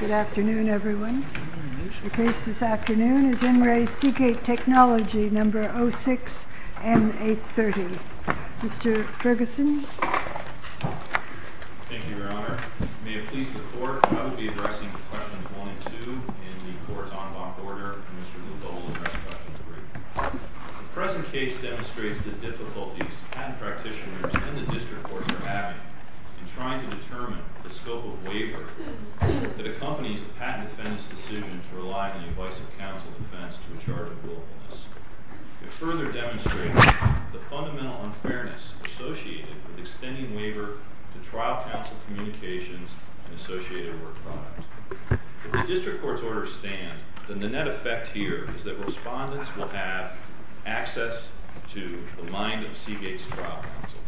Good afternoon, everyone. The case this afternoon is En Re Seagate Technology No. 06-M830. Mr. Ferguson. Thank you, Your Honor. May it please the Court, I will be addressing questions 1 and 2 in the Court's en banc order. The present case demonstrates the difficulties patent practitioners and the District Courts are having in trying to determine the scope of waiver that accompanies a patent defendant's decision to rely on the advice of counsel defense to a charge of willfulness. It further demonstrates the fundamental unfairness associated with extending waiver to trial counsel communications and associated work product. If the District Court's orders stand, then the net effect here is that respondents will have access to the mind of Seagate's trial counsel.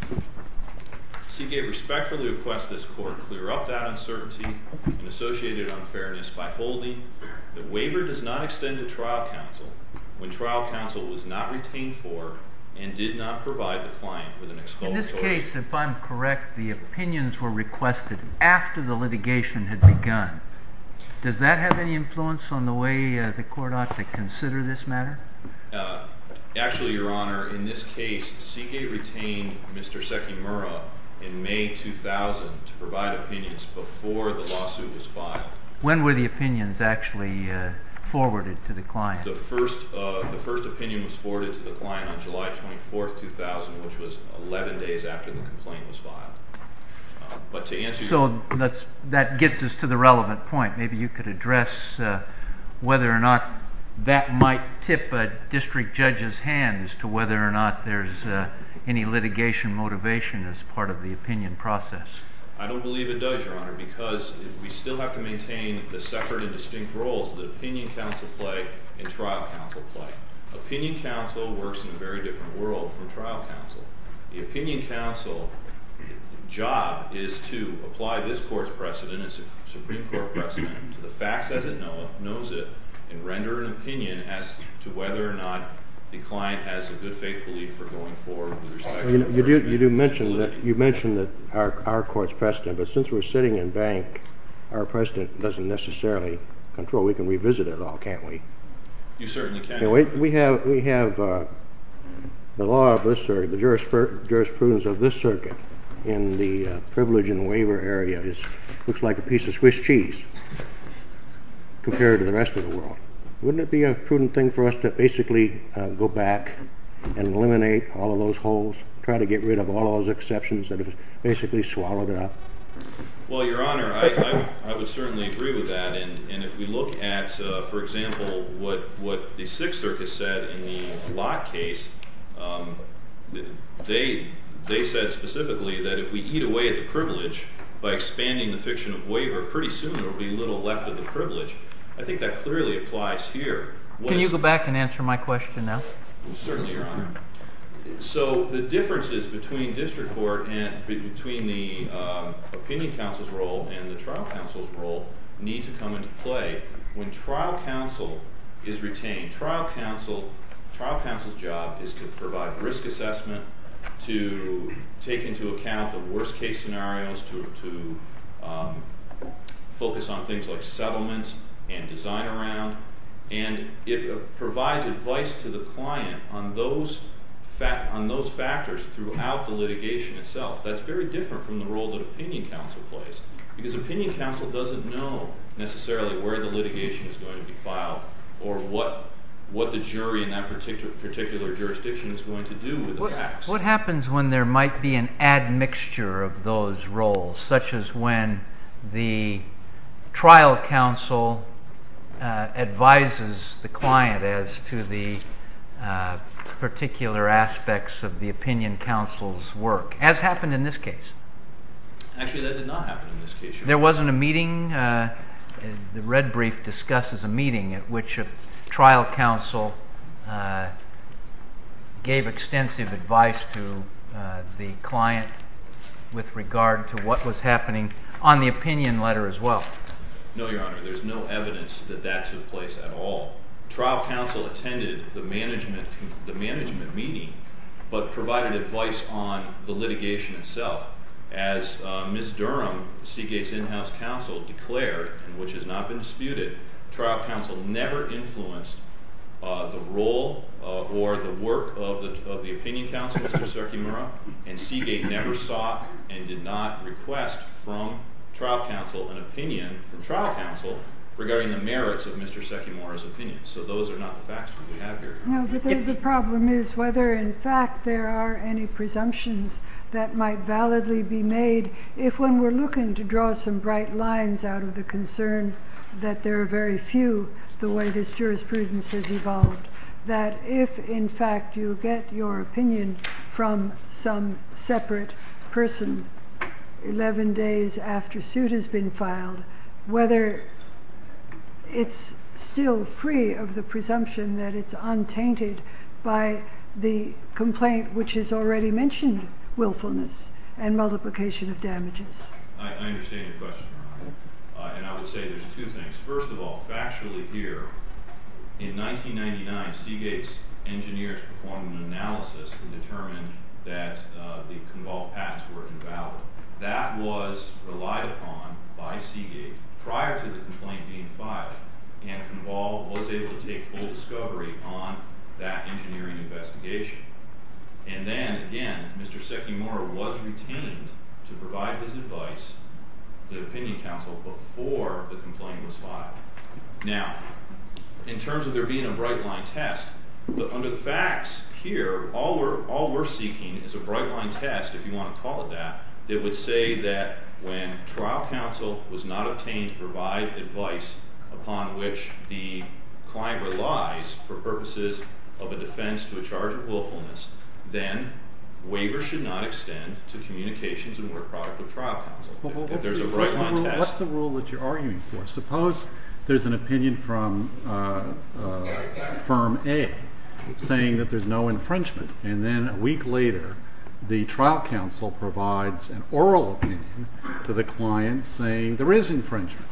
Seagate respectfully requests this Court clear up that uncertainty and associated unfairness by holding that waiver does not extend to trial counsel when trial counsel was not retained for and did not provide the client with an exculpatory... Does that have any influence on the way the Court ought to consider this matter? Actually, Your Honor, in this case, Seagate retained Mr. Sekimura in May 2000 to provide opinions before the lawsuit was filed. When were the opinions actually forwarded to the client? The first opinion was forwarded to the client on July 24, 2000, which was 11 days after the complaint was filed. So that gets us to the relevant point. Maybe you could address whether or not that might tip a district judge's hand as to whether or not there's any litigation motivation as part of the opinion process. I don't believe it does, Your Honor, because we still have to maintain the separate and distinct roles that opinion counsel play and trial counsel play. Opinion counsel works in a very different world from trial counsel. The opinion counsel's job is to apply this Court's precedent, this Supreme Court precedent, to the facts as it knows it, and render an opinion as to whether or not the client has a good faith belief for going forward with respect to... You do mention that our Court's precedent, but since we're sitting in bank, our precedent doesn't necessarily control. We can revisit it all, can't we? You certainly can. Anyway, we have the law of this circuit, the jurisprudence of this circuit, in the privilege and waiver area. It looks like a piece of Swiss cheese compared to the rest of the world. Wouldn't it be a prudent thing for us to basically go back and eliminate all of those holes, try to get rid of all those exceptions that have basically swallowed it up? Well, Your Honor, I would certainly agree with that. And if we look at, for example, what the Sixth Circus said in the Lott case, they said specifically that if we eat away at the privilege by expanding the fiction of waiver, pretty soon there will be little left of the privilege. I think that clearly applies here. Can you go back and answer my question now? Certainly, Your Honor. So the differences between district court and between the opinion counsel's role and the trial counsel's role need to come into play. When trial counsel is retained, trial counsel's job is to provide risk assessment, to take into account the worst-case scenarios, to focus on things like settlement and design around, and it provides advice to the client on those factors throughout the litigation itself. That's very different from the role that opinion counsel plays, because opinion counsel doesn't know necessarily where the litigation is going to be filed or what the jury in that particular jurisdiction is going to do with the facts. What happens when there might be an admixture of those roles, such as when the trial counsel advises the client as to the particular aspects of the opinion counsel's work, as happened in this case? Actually, that did not happen in this case, Your Honor. There wasn't a meeting? The red brief discusses a meeting at which a trial counsel gave extensive advice to the client with regard to what was happening on the opinion letter as well. No, Your Honor. There's no evidence that that took place at all. Trial counsel attended the management meeting but provided advice on the litigation itself. As Ms. Durham, Seagate's in-house counsel, declared, and which has not been disputed, trial counsel never influenced the role or the work of the opinion counsel, Mr. Sekimura, and Seagate never saw and did not request from trial counsel an opinion regarding the merits of Mr. Sekimura's opinion. So those are not the facts that we have here. The problem is whether, in fact, there are any presumptions that might validly be made if, when we're looking to draw some bright lines out of the concern that there are very few, the way this jurisprudence has evolved, that if, in fact, you get your opinion from some separate person 11 days after suit has been filed, whether it's still free of the presumption that it's untainted by the complaint which has already mentioned willfulness and multiplication of damages. I understand your question, Your Honor. And I would say there's two things. First of all, factually here, in 1999, Seagate's engineers performed an analysis and determined that the Conval patents were invalid. That was relied upon by Seagate prior to the complaint being filed, and Conval was able to take full discovery on that engineering investigation. And then, again, Mr. Sekimura was retained to provide his advice to the opinion counsel before the complaint was filed. Now, in terms of there being a bright-line test, under the facts here, all we're seeking is a bright-line test, if you want to call it that, that would say that when trial counsel was not obtained to provide advice upon which the client relies for purposes of a defense to a charge of willfulness, then waivers should not extend to communications and work product of trial counsel. If there's a bright-line test— What's the rule that you're arguing for? Suppose there's an opinion from Firm A saying that there's no infringement, and then a week later the trial counsel provides an oral opinion to the client saying there is infringement.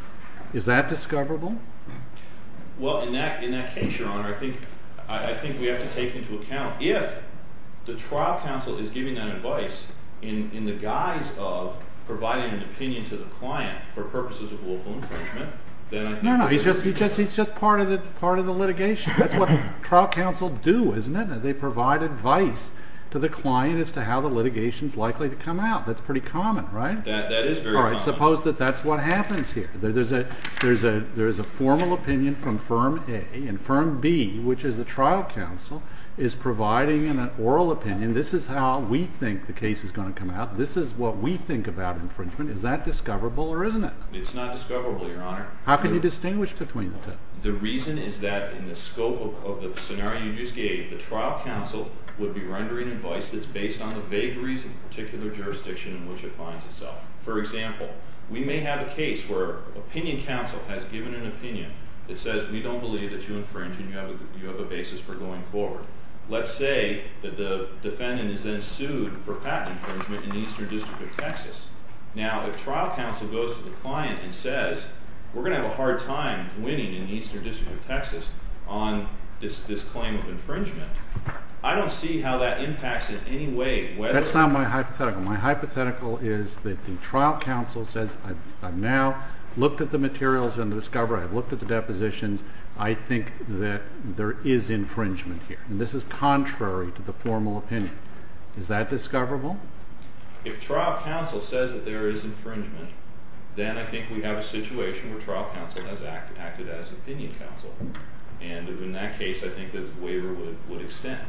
Is that discoverable? Well, in that case, Your Honor, I think we have to take into account if the trial counsel is giving that advice in the guise of providing an opinion to the client for purposes of willful infringement, then I think— No, no, he's just part of the litigation. That's what trial counsel do, isn't it? They provide advice to the client as to how the litigation is likely to come out. That's pretty common, right? That is very common. All right, suppose that that's what happens here. There is a formal opinion from Firm A, and Firm B, which is the trial counsel, is providing an oral opinion. This is how we think the case is going to come out. This is what we think about infringement. Is that discoverable or isn't it? It's not discoverable, Your Honor. How can you distinguish between the two? The reason is that in the scope of the scenario you just gave, the trial counsel would be rendering advice that's based on the vague reason of the particular jurisdiction in which it finds itself. For example, we may have a case where opinion counsel has given an opinion that says we don't believe that you infringe and you have a basis for going forward. Let's say that the defendant is then sued for patent infringement in the Eastern District of Texas. Now, if trial counsel goes to the client and says, we're going to have a hard time winning in the Eastern District of Texas on this claim of infringement, I don't see how that impacts in any way whether That's not my hypothetical. My hypothetical is that the trial counsel says, I've now looked at the materials in the discovery. I've looked at the depositions. I think that there is infringement here. This is contrary to the formal opinion. Is that discoverable? If trial counsel says that there is infringement, then I think we have a situation where trial counsel has acted as opinion counsel. And in that case, I think the waiver would extend.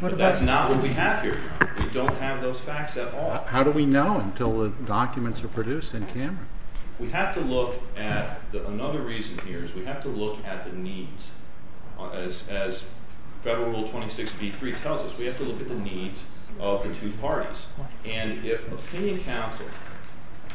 But that's not what we have here. We don't have those facts at all. How do we know until the documents are produced in camera? We have to look at another reason here is we have to look at the needs. As Federal Rule 26b-3 tells us, we have to look at the needs of the two parties. And if opinion counsel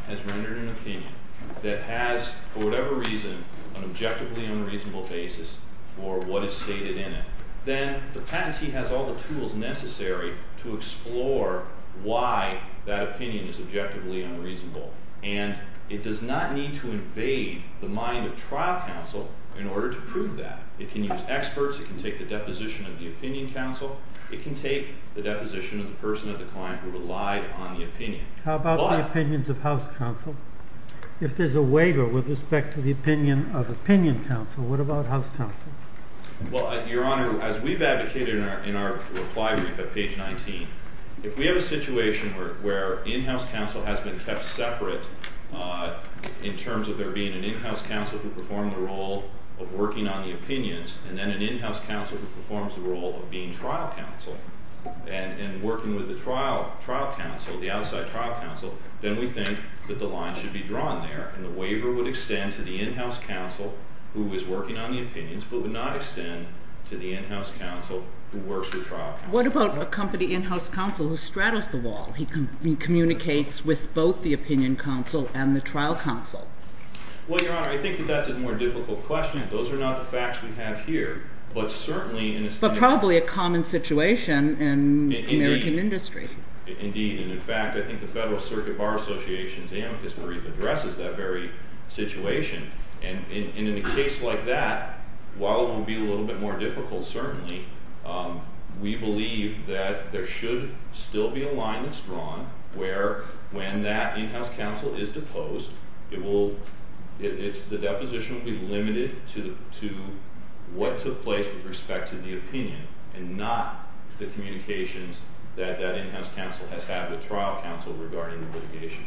has rendered an opinion that has, for whatever reason, an objectively unreasonable basis for what is stated in it, then the patentee has all the tools necessary to explore why that opinion is objectively unreasonable. And it does not need to invade the mind of trial counsel in order to prove that. It can use experts. It can take the deposition of the opinion counsel. It can take the deposition of the person or the client who relied on the opinion. How about the opinions of house counsel? If there's a waiver with respect to the opinion of opinion counsel, what about house counsel? Your Honor, as we've advocated in our reply brief at page 19, if we have a situation where in-house counsel has been kept separate in terms of there being an in-house counsel who performed the role of working on the opinions and then an in-house counsel who performs the role of being trial counsel and working with the trial counsel, the outside trial counsel, then we think that the line should be drawn there. And the waiver would extend to the in-house counsel who is working on the opinions but would not extend to the in-house counsel who works with trial counsel. What about a company in-house counsel who straddles the wall? He communicates with both the opinion counsel and the trial counsel. Well, Your Honor, I think that that's a more difficult question. Those are not the facts we have here. But probably a common situation in American industry. Indeed. And, in fact, I think the Federal Circuit Bar Association's amicus marif addresses that very situation. And in a case like that, while it will be a little bit more difficult, certainly, we believe that there should still be a line that's drawn where when that in-house counsel is deposed, the deposition will be limited to what took place with respect to the opinion and not the communications that that in-house counsel has had with trial counsel regarding the litigation.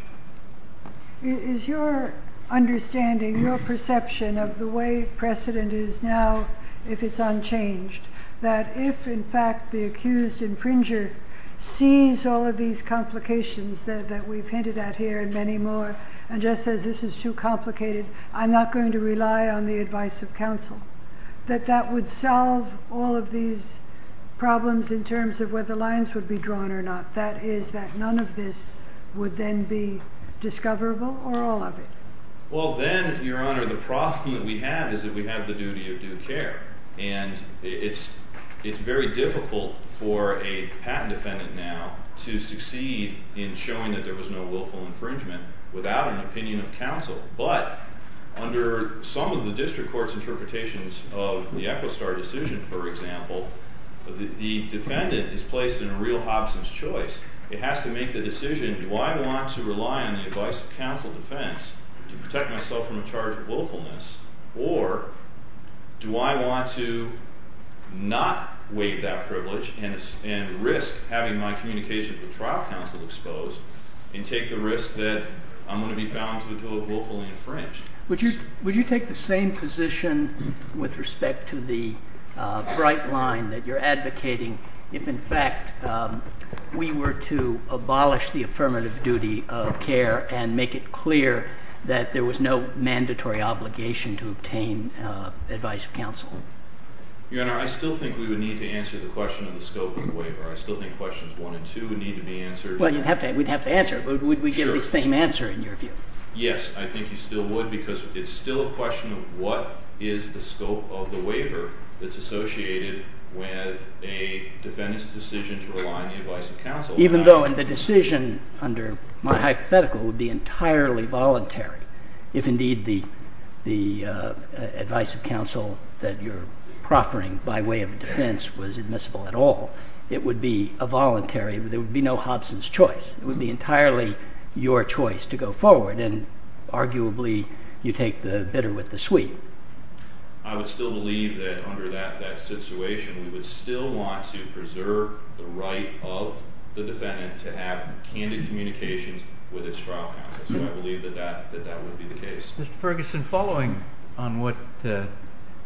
Is your understanding, your perception of the way precedent is now, if it's unchanged, that if, in fact, the accused infringer sees all of these complications that we've hinted at here and many more and just says this is too complicated, I'm not going to rely on the advice of counsel, that that would solve all of these problems in terms of whether lines would be drawn or not? That is, that none of this would then be discoverable or all of it? Well, then, Your Honor, the problem that we have is that we have the duty of due care. And it's very difficult for a patent defendant now to succeed in showing that there was no willful infringement without an opinion of counsel. But under some of the district court's interpretations of the Echo Star decision, for example, the defendant is placed in a real Hobson's choice. It has to make the decision, do I want to rely on the advice of counsel defense to protect myself from a charge of willfulness, or do I want to not waive that privilege and risk having my communication with trial counsel exposed and take the risk that I'm going to be found to have willfully infringed? Would you take the same position with respect to the bright line that you're advocating if, in fact, we were to abolish the affirmative duty of care and make it clear that there was no mandatory obligation to obtain advice of counsel? Your Honor, I still think we would need to answer the question of the scope of the waiver. I still think questions one and two would need to be answered. Well, you'd have to. We'd have to answer it. But would we get the same answer, in your view? Yes, I think you still would, because it's still a question of what is the scope of the waiver that's associated with a defendant's decision to rely on the advice of counsel. Even though the decision, under my hypothetical, would be entirely voluntary if, indeed, the advice of counsel that you're proffering by way of defense was admissible at all, it would be a voluntary. There would be no Hodson's choice. It would be entirely your choice to go forward, and arguably you take the bitter with the sweet. I would still believe that under that situation we would still want to preserve the right of the defendant to have candid communications with its trial counsel. So I believe that that would be the case. Mr. Ferguson, following on what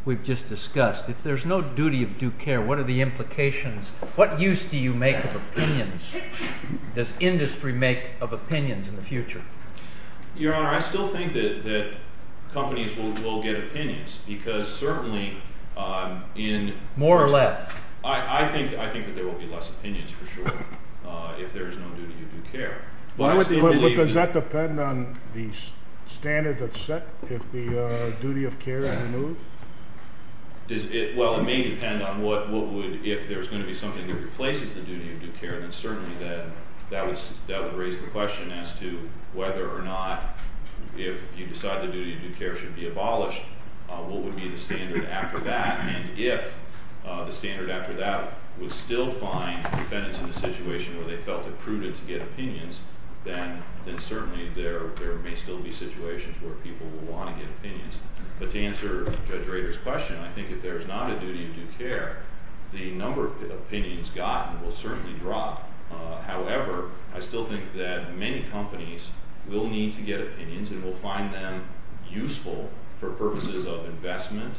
we've just discussed, if there's no duty of due care, what are the implications? What use do you make of opinions? Does industry make of opinions in the future? Your Honor, I still think that companies will get opinions, because certainly in— More or less? I think that there will be less opinions, for sure, if there is no duty of due care. Does that depend on the standard that's set if the duty of care is removed? Well, it may depend on what would— if there's going to be something that replaces the duty of due care, then certainly that would raise the question as to whether or not if you decide the duty of due care should be abolished, what would be the standard after that, and if the standard after that would still find defendants in the situation where they felt it prudent to get opinions, then certainly there may still be situations where people will want to get opinions. But to answer Judge Rader's question, I think if there's not a duty of due care, the number of opinions gotten will certainly drop. However, I still think that many companies will need to get opinions and will find them useful for purposes of investment,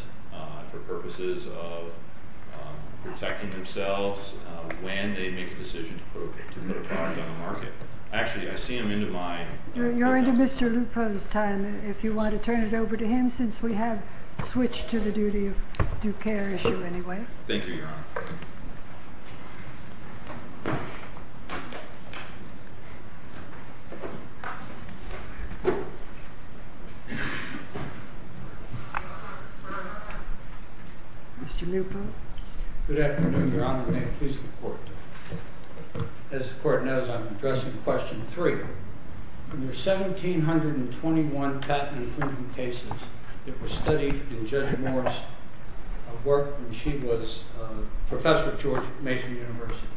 for purposes of protecting themselves when they make a decision to put a product on the market. Actually, I see them into my— You're into Mr. Lupo's time if you want to turn it over to him since we have switched to the duty of due care issue anyway. Thank you, Your Honor. Mr. Lupo? Good afternoon, Your Honor. May it please the Court. As the Court knows, I'm addressing question three. In the 1,721 patent infringement cases that were studied in Judge Moore's work when she was a professor at George Mason University,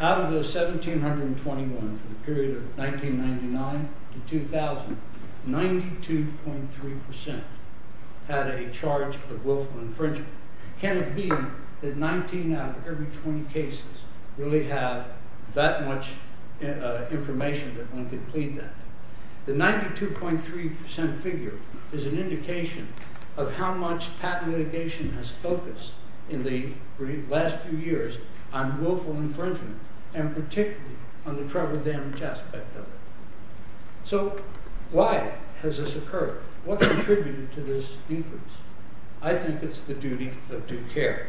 out of the 1,721 from the period of 1999 to 2000, 92.3% had a charge of willful infringement. Can it be that 19 out of every 20 cases really have that much information that one could plead that? The 92.3% figure is an indication of how much patent litigation has focused in the last few years on willful infringement and particularly on the trouble-damaged aspect of it. So, why has this occurred? What contributed to this increase? I think it's the duty of due care.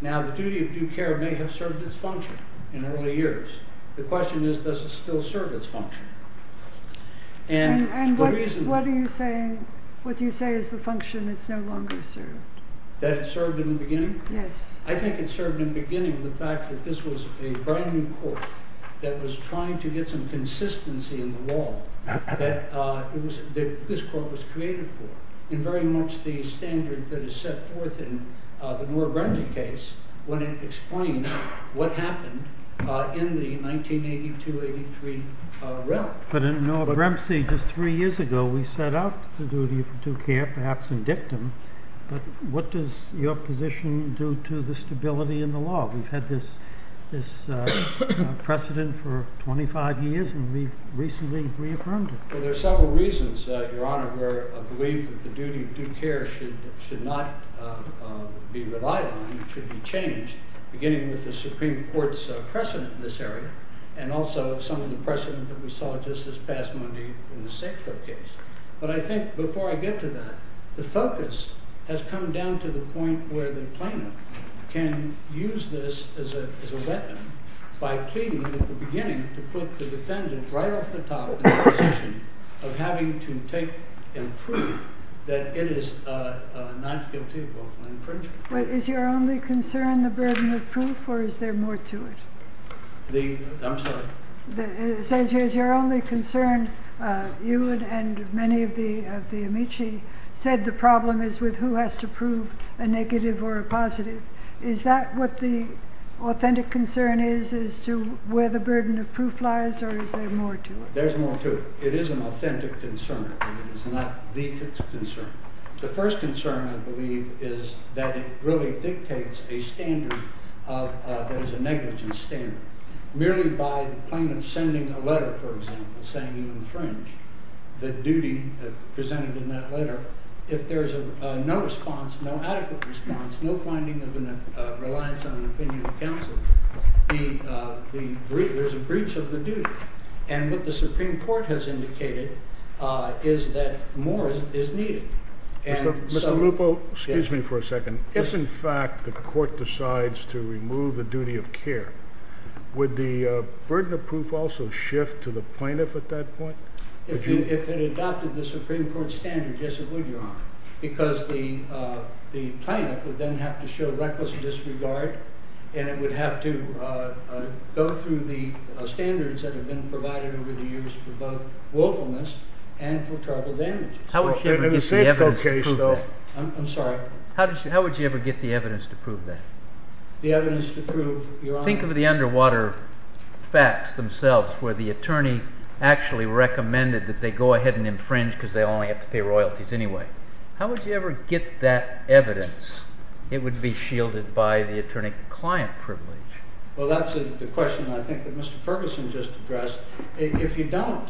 Now, the duty of due care may have served its function in early years. The question is, does it still serve its function? And what do you say is the function that's no longer served? That it served in the beginning? Yes. I think it served in the beginning the fact that this was a brand-new court that was trying to get some consistency in the law that this court was created for, and very much the standard that is set forth in the Moore-Bremsey case when it explained what happened in the 1982-83 realm. But in Moore-Bremsey, just three years ago, we set out the duty of due care, perhaps in dictum, but what does your position do to the stability in the law? We've had this precedent for 25 years, and we've recently reaffirmed it. Well, there are several reasons, Your Honor, where I believe that the duty of due care should not be relied on, it should be changed, beginning with the Supreme Court's precedent in this area, and also some of the precedent that we saw just this past Monday in the Safeco case. But I think, before I get to that, the focus has come down to the point where the plaintiff can use this as a weapon by pleading at the beginning to put the defendant right off the top in the position of having to take and prove that it is not guilty of infringement. Is your only concern the burden of proof, or is there more to it? I'm sorry? It says here it's your only concern. You and many of the amici said the problem is with who has to prove a negative or a positive. Is that what the authentic concern is, is to where the burden of proof lies, or is there more to it? There's more to it. It is an authentic concern, and it is not the concern. The first concern, I believe, is that it really dictates a standard that is a negligent standard. Merely by the plaintiff sending a letter, for example, saying you infringed the duty presented in that letter, if there's no response, no adequate response, no finding of a reliance on an opinion of counsel, there's a breach of the duty. And what the Supreme Court has indicated is that more is needed. Mr. Lupo, excuse me for a second. If, in fact, the court decides to remove the duty of care, would the burden of proof also shift to the plaintiff at that point? If it adopted the Supreme Court standard, yes, it would, Your Honor, because the plaintiff would then have to show reckless disregard, and it would have to go through the standards that have been provided over the years for both willfulness and for terrible damages. How would you ever get the evidence to prove that? I'm sorry? How would you ever get the evidence to prove that? The evidence to prove, Your Honor? Think of the underwater facts themselves, where the attorney actually recommended that they go ahead and infringe because they only have to pay royalties anyway. How would you ever get that evidence? It would be shielded by the attorney-client privilege. Well, that's the question I think that Mr. Ferguson just addressed. If you don't,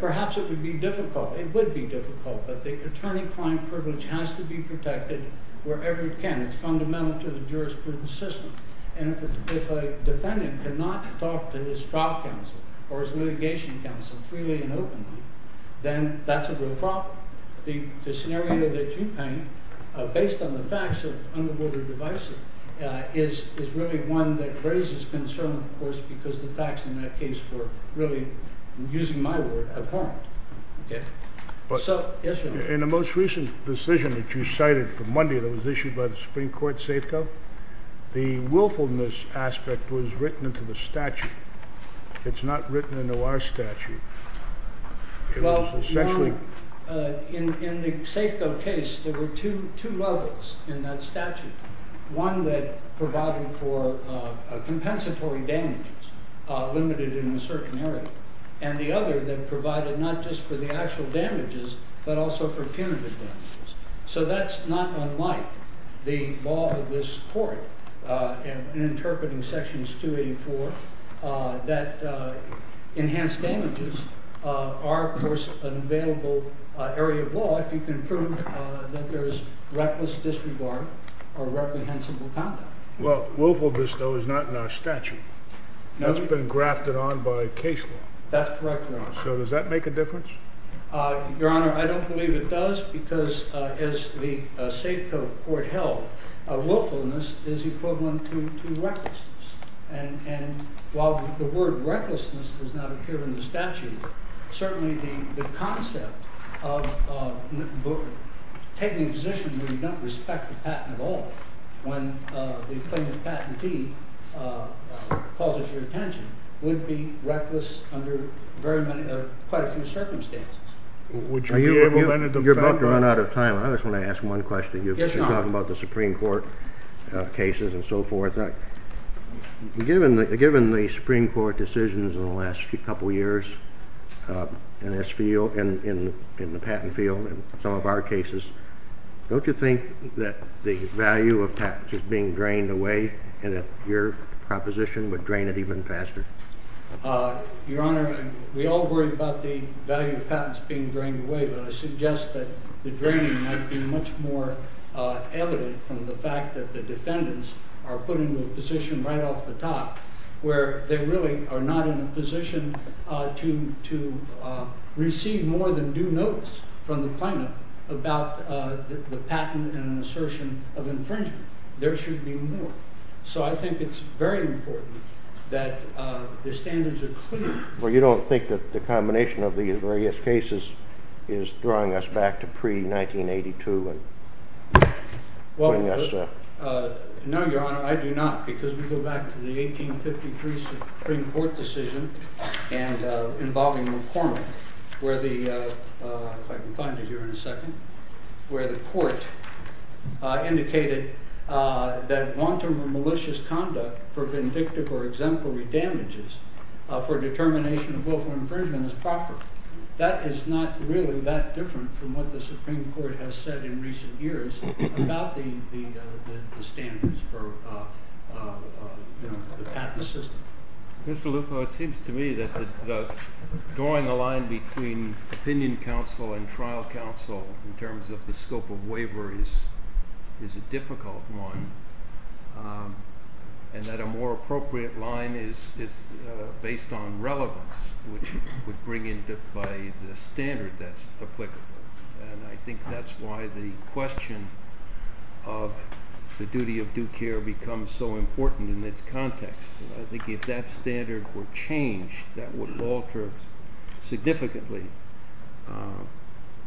perhaps it would be difficult. It would be difficult, but the attorney-client privilege has to be protected wherever it can. It's fundamental to the jurisprudence system, and if a defendant cannot talk to his trial counsel or his litigation counsel freely and openly, then that's a real problem. The scenario that you paint, based on the facts of underwater devices, is really one that raises concern, of course, because the facts in that case were really, using my word, abhorrent. In the most recent decision that you cited from Monday that was issued by the Supreme Court, Safeco, the willfulness aspect was written into the statute. It's not written into our statute. In the Safeco case, there were two levels in that statute. One that provided for compensatory damages, limited in a certain area, and the other that provided not just for the actual damages, but also for punitive damages. So that's not unlike the law of this court, in interpreting sections 284, that enhanced damages are, of course, an available area of law if you can prove that there is reckless disregard or reprehensible conduct. Well, willfulness, though, is not in our statute. It's been grafted on by case law. That's correct, Your Honor. So does that make a difference? Your Honor, I don't believe it does, because as the Safeco court held, willfulness is equivalent to recklessness. And while the word recklessness does not appear in the statute, certainly the concept of taking a position where you don't respect the patent at all when the plaintiff's patentee calls it to your attention would be reckless under quite a few circumstances. Would you be able, then, to defend? You're about to run out of time. I just want to ask one question. Yes, Your Honor. You've been talking about the Supreme Court cases and so forth. Given the Supreme Court decisions in the last couple years in this field, in the patent field, in some of our cases, don't you think that the value of patents is being drained away and that your proposition would drain it even faster? Your Honor, we all worry about the value of patents being drained away, but I suggest that the draining might be much more evident from the fact that the defendants are put into a position right off the top where they really are not in a position to receive more than due notice from the plaintiff about the patent and an assertion of infringement. There should be more. So I think it's very important that the standards are clear. Well, you don't think that the combination of these various cases is throwing us back to pre-1982? No, Your Honor, I do not, because we go back to the 1853 Supreme Court decision involving McCormick, if I can find it here in a second, where the court indicated that long-term or malicious conduct for vindictive or exemplary damages for determination of willful infringement is proper. That is not really that different from what the Supreme Court has said in recent years about the standards for the patent system. Mr. Lupo, it seems to me that drawing a line between opinion counsel and trial counsel in terms of the scope of waiver is a difficult one and that a more appropriate line is based on relevance, which would bring into play the standard that's applicable. And I think that's why the question of the duty of due care becomes so important in this context. I think if that standard were changed, that would alter significantly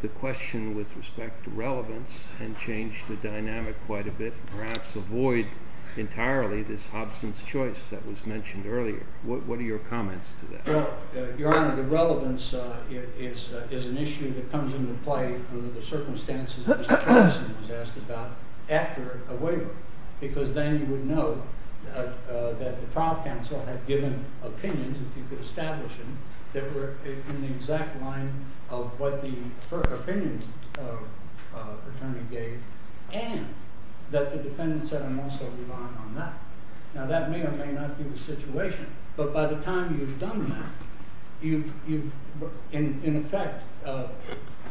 the question with respect to relevance and change the dynamic quite a bit and perhaps avoid entirely this absence choice that was mentioned earlier. What are your comments to that? Well, Your Honor, the relevance is an issue that comes into play under the circumstances that Mr. Patterson was asked about after a waiver, because then you would know that the trial counsel had given opinions, if you could establish them, that were in the exact line of what the first opinion attorney gave and that the defendant said, Now that may or may not be the situation, but by the time you've done that, you've in effect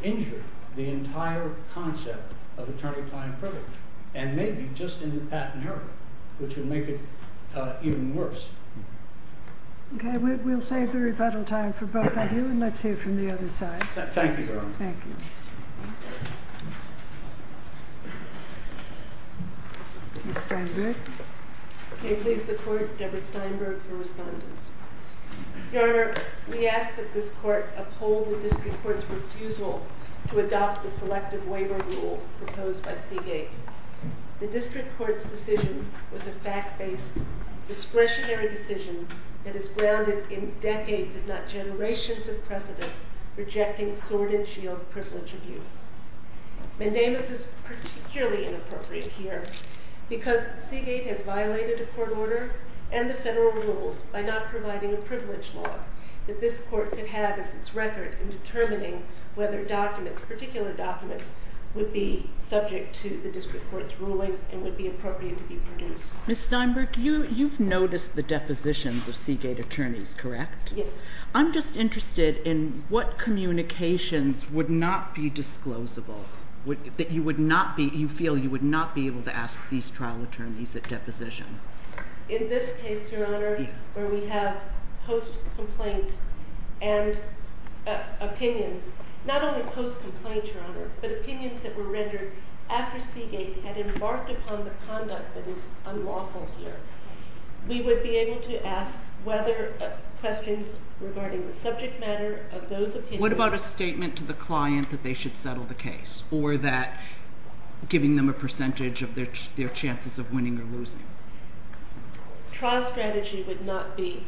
injured the entire concept of attorney-client privilege and maybe just in the patent area, which would make it even worse. Okay, we'll save the rebuttal time for both of you and let's hear from the other side. Thank you, Your Honor. Thank you. Ms. Steinberg? May it please the Court, Deborah Steinberg for respondence. Your Honor, we ask that this Court uphold the District Court's refusal to adopt the selective waiver rule proposed by Seagate. The District Court's decision was a fact-based, discretionary decision that is grounded in decades, if not generations of precedent, rejecting sword-and-shield privilege abuse. Mendamis is particularly inappropriate here because Seagate has violated a court order and the federal rules by not providing a privilege law that this Court could have as its record in determining whether documents, particular documents, would be subject to the District Court's ruling and would be appropriate to be produced. Ms. Steinberg, you've noticed the depositions of Seagate attorneys, correct? Yes. I'm just interested in what communications would not be disclosable, that you feel you would not be able to ask these trial attorneys at deposition. In this case, Your Honor, where we have post-complaint and opinions, not only post-complaint, Your Honor, but opinions that were rendered after Seagate had embarked upon the conduct that is unlawful here, we would be able to ask questions regarding the subject matter of those opinions. What about a statement to the client that they should settle the case or that giving them a percentage of their chances of winning or losing? Trial strategy would not be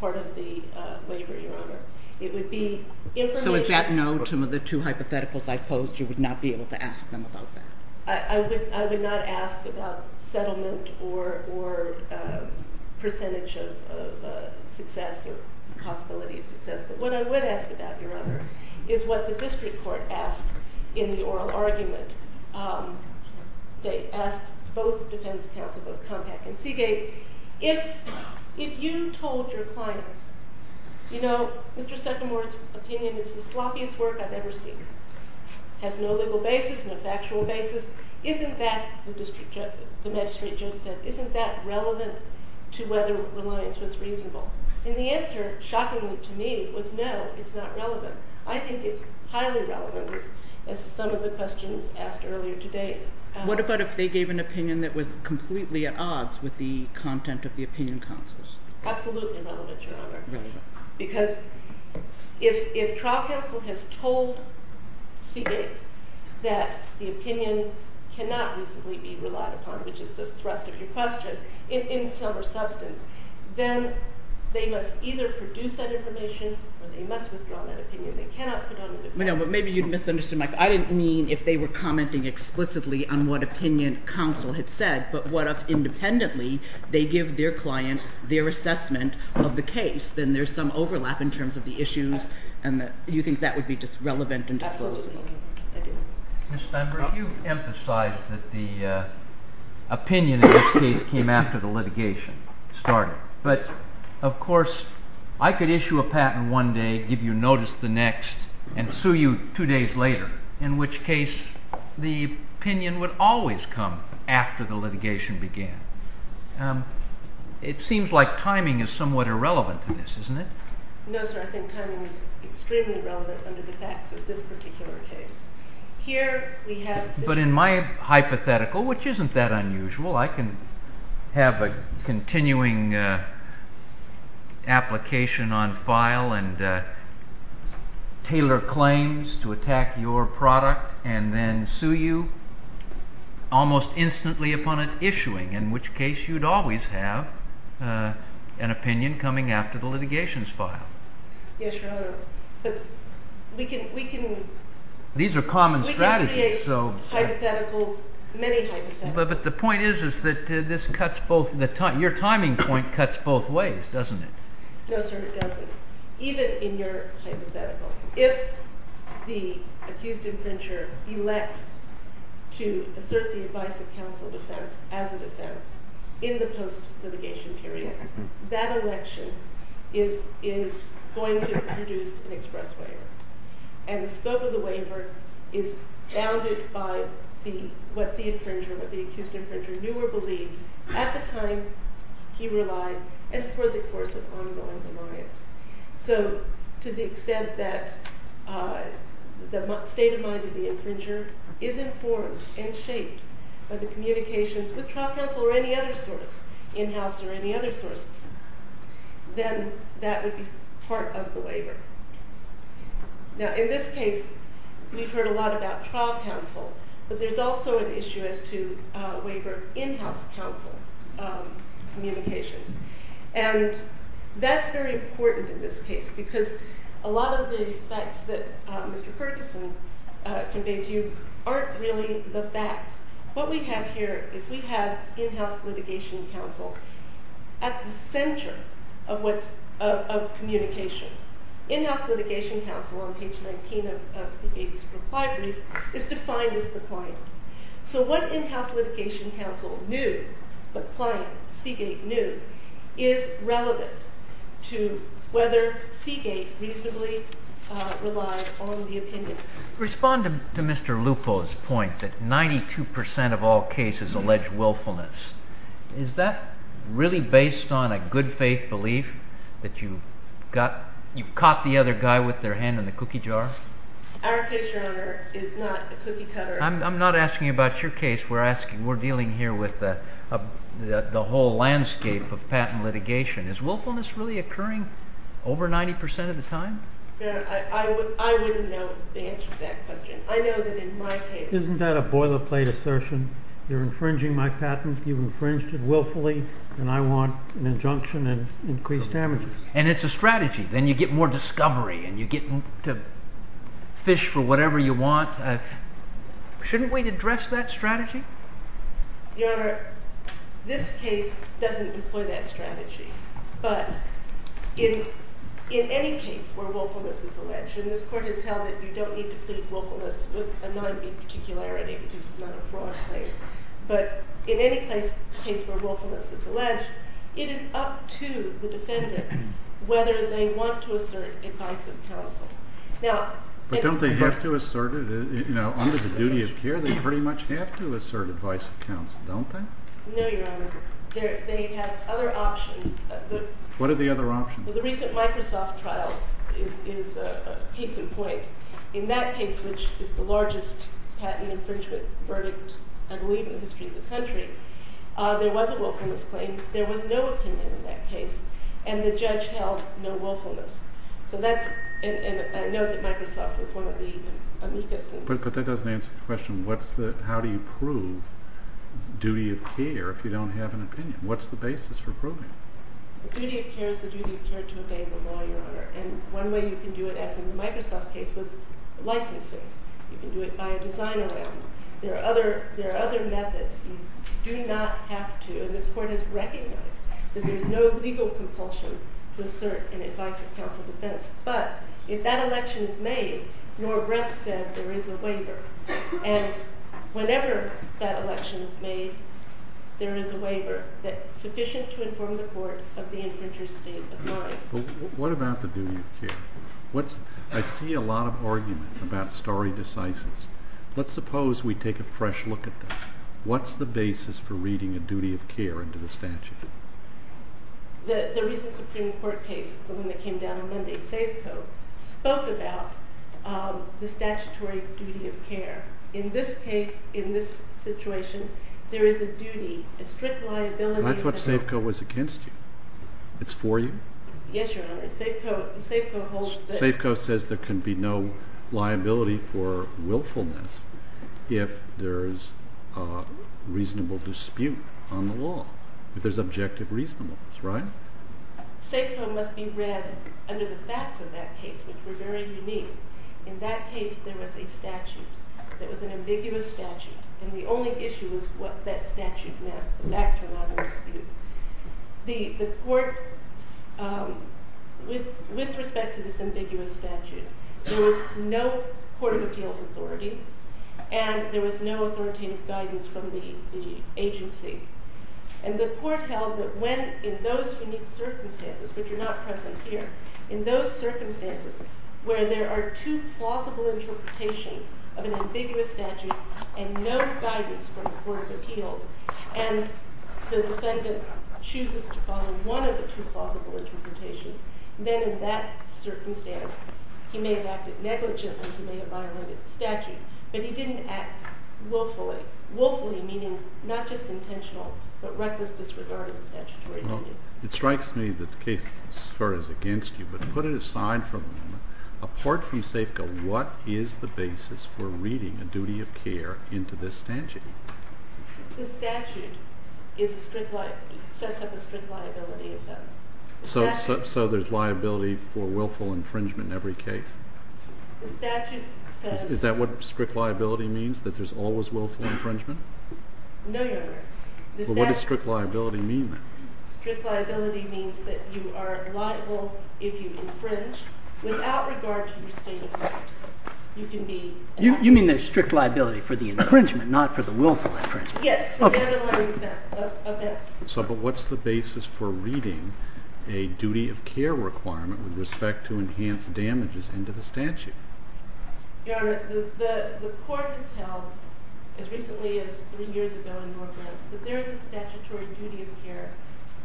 part of the waiver, Your Honor. So is that no to the two hypotheticals I posed? You would not be able to ask them about that? I would not ask about settlement or percentage of success or possibility of success, but what I would ask about, Your Honor, is what the district court asked in the oral argument. They asked both the defense counsel, both Compact and Seagate, if you told your clients, you know, Mr. Setlemore's opinion is the sloppiest work I've ever seen. It has no legal basis, no factual basis. Isn't that, the magistrate judge said, isn't that relevant to whether reliance was reasonable? And the answer, shockingly to me, was no, it's not relevant. I think it's highly relevant, as some of the questions asked earlier today. What about if they gave an opinion that was completely at odds with the content of the opinion counsels? Absolutely relevant, Your Honor. Because if trial counsel has told Seagate that the opinion cannot reasonably be relied upon, which is the thrust of your question, in sum or substance, then they must either produce that information or they must withdraw that opinion. They cannot put on a defense. But maybe you'd misunderstood my question. I didn't mean if they were commenting explicitly on what opinion counsel had said, but what if independently they give their client their assessment of the case, then there's some overlap in terms of the issues and you think that would be just relevant and disposable. Absolutely, I do. Ms. Steinberg, you emphasized that the opinion in this case came after the litigation started. But, of course, I could issue a patent one day, give you notice the next, and sue you two days later, in which case the opinion would always come after the litigation began. It seems like timing is somewhat irrelevant in this, isn't it? No, sir, I think timing is extremely relevant under the facts of this particular case. Here we have... But in my hypothetical, which isn't that unusual, I can have a continuing application on file and tailor claims to attack your product and then sue you almost instantly upon its issuing, in which case you'd always have an opinion coming after the litigation's file. Yes, Your Honor, but we can... These are common strategies, so... We can create hypotheticals, many hypotheticals. But the point is that this cuts both... Your timing point cuts both ways, doesn't it? No, sir, it doesn't, even in your hypothetical. If the accused infringer elects to assert the advice of counsel defense as a defense in the post-litigation period, that election is going to produce an express waiver. And the scope of the waiver is bounded by what the infringer, what the accused infringer knew or believed at the time he relied and for the course of ongoing reliance. So to the extent that the state of mind of the infringer is informed and shaped by the communications with trial counsel or any other source, in-house or any other source, then that would be part of the waiver. Now, in this case, we've heard a lot about trial counsel, but there's also an issue as to waiver in-house counsel communications. And that's very important in this case because a lot of the facts that Mr Ferguson conveyed to you aren't really the facts. What we have here is we have in-house litigation counsel at the center of communications. In-house litigation counsel, on page 19 of Seagate's reply brief, is defined as the client. So what in-house litigation counsel knew, what client Seagate knew, is relevant to whether Seagate reasonably relied on the opinions. Respond to Mr Lupo's point that 92% of all cases allege willfulness. Is that really based on a good faith belief that you caught the other guy with their hand in the cookie jar? Our case, Your Honor, is not a cookie cutter. I'm not asking about your case. We're dealing here with the whole landscape of patent litigation. Is willfulness really occurring over 90% of the time? I wouldn't know the answer to that question. I know that in my case... Isn't that a boilerplate assertion? You're infringing my patent. You've infringed it willfully. And I want an injunction and increased damages. And it's a strategy. Then you get more discovery and you get to fish for whatever you want. Shouldn't we address that strategy? Your Honor, this case doesn't employ that strategy. But in any case where willfulness is alleged, and this Court has held that you don't need to plead willfulness with a non-b-particularity because it's not a fraud claim, but in any case where willfulness is alleged, it is up to the defendant whether they want to assert advice of counsel. But don't they have to assert it? Under the duty of care, they pretty much have to assert advice of counsel, don't they? No, Your Honor. They have other options. What are the other options? The recent Microsoft trial is a case in point. In that case, which is the largest patent infringement verdict, I believe, in the history of the country, there was a willfulness claim. There was no opinion in that case. And the judge held no willfulness. And I know that Microsoft was one of the amicus. But that doesn't answer the question, how do you prove duty of care if you don't have an opinion? What's the basis for proving it? The duty of care is the duty of care to obey the law, Your Honor. And one way you can do it, as in the Microsoft case, was licensing. You can do it by a design amendment. There are other methods. You do not have to, and this Court has recognized that there is no legal compulsion to assert an advice of counsel defense. But if that election is made, Norbert said there is a waiver. And whenever that election is made, there is a waiver that is sufficient to inform the Court of the infringer's state of mind. What about the duty of care? I see a lot of argument about stare decisis. Let's suppose we take a fresh look at this. What's the basis for reading a duty of care into the statute? The recent Supreme Court case, the one that came down on Monday, Safeco, spoke about the statutory duty of care. In this case, in this situation, there is a duty, a strict liability. That's what Safeco was against you. It's for you? Yes, Your Honor. Safeco says there can be no liability for willfulness if there is a reasonable dispute on the law, if there's objective reasonableness, right? Safeco must be read under the facts of that case, which were very unique. In that case, there was a statute that was an ambiguous statute, and the only issue was what that statute meant. The facts were not a dispute. The Court, with respect to this ambiguous statute, there was no Court of Appeals authority, and there was no authoritative guidance from the agency. And the Court held that when, in those unique circumstances, which are not present here, in those circumstances where there are two plausible interpretations of an ambiguous statute and no guidance from the Court of Appeals, and the defendant chooses to follow one of the two plausible interpretations, then in that circumstance, he may have acted negligently, he may have violated the statute, but he didn't act willfully. Willfully meaning not just intentional, but reckless disregard of the statutory duty. It strikes me that the case is against you, but put it aside for the moment. Apart from Safeco, what is the basis for reading a duty of care into this statute? The statute sets up a strict liability offense. So there's liability for willful infringement in every case? The statute says... Is that what strict liability means, that there's always willful infringement? No, Your Honor. Well, what does strict liability mean, then? Strict liability means that you are liable if you infringe without regard to your state of law. You can be... You mean there's strict liability for the infringement, not for the willful infringement? Yes. Okay. So, but what's the basis for reading a duty of care requirement with respect to enhanced damages into the statute? Your Honor, the court has held, as recently as three years ago in New Orleans, that there is a statutory duty of care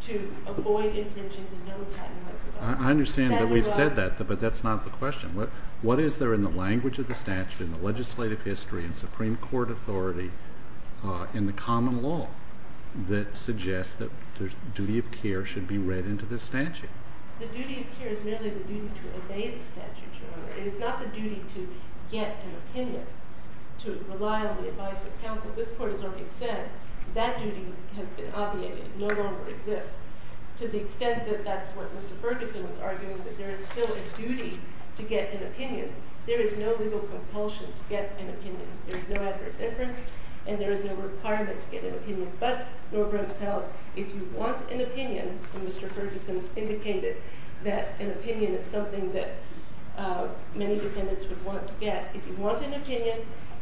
to avoid infringing the known patent rights of others. I understand that we've said that, but that's not the question. What is there in the language of the statute, in the legislative history, in Supreme Court authority, in the common law, that suggests that the duty of care should be read into this statute? The duty of care is merely the duty to obey the statute, Your Honor. And it's not the duty to get an opinion, to rely on the advice of counsel. This Court has already said that duty has been obviated. It no longer exists. To the extent that that's what Mr. Ferguson was arguing, that there is still a duty to get an opinion, there is no legal compulsion to get an opinion. There is no adverse inference, and there is no requirement to get an opinion. But, Norbert has held, if you want an opinion, and Mr. Ferguson indicated that an opinion is something that many defendants would want to get, if you want an opinion,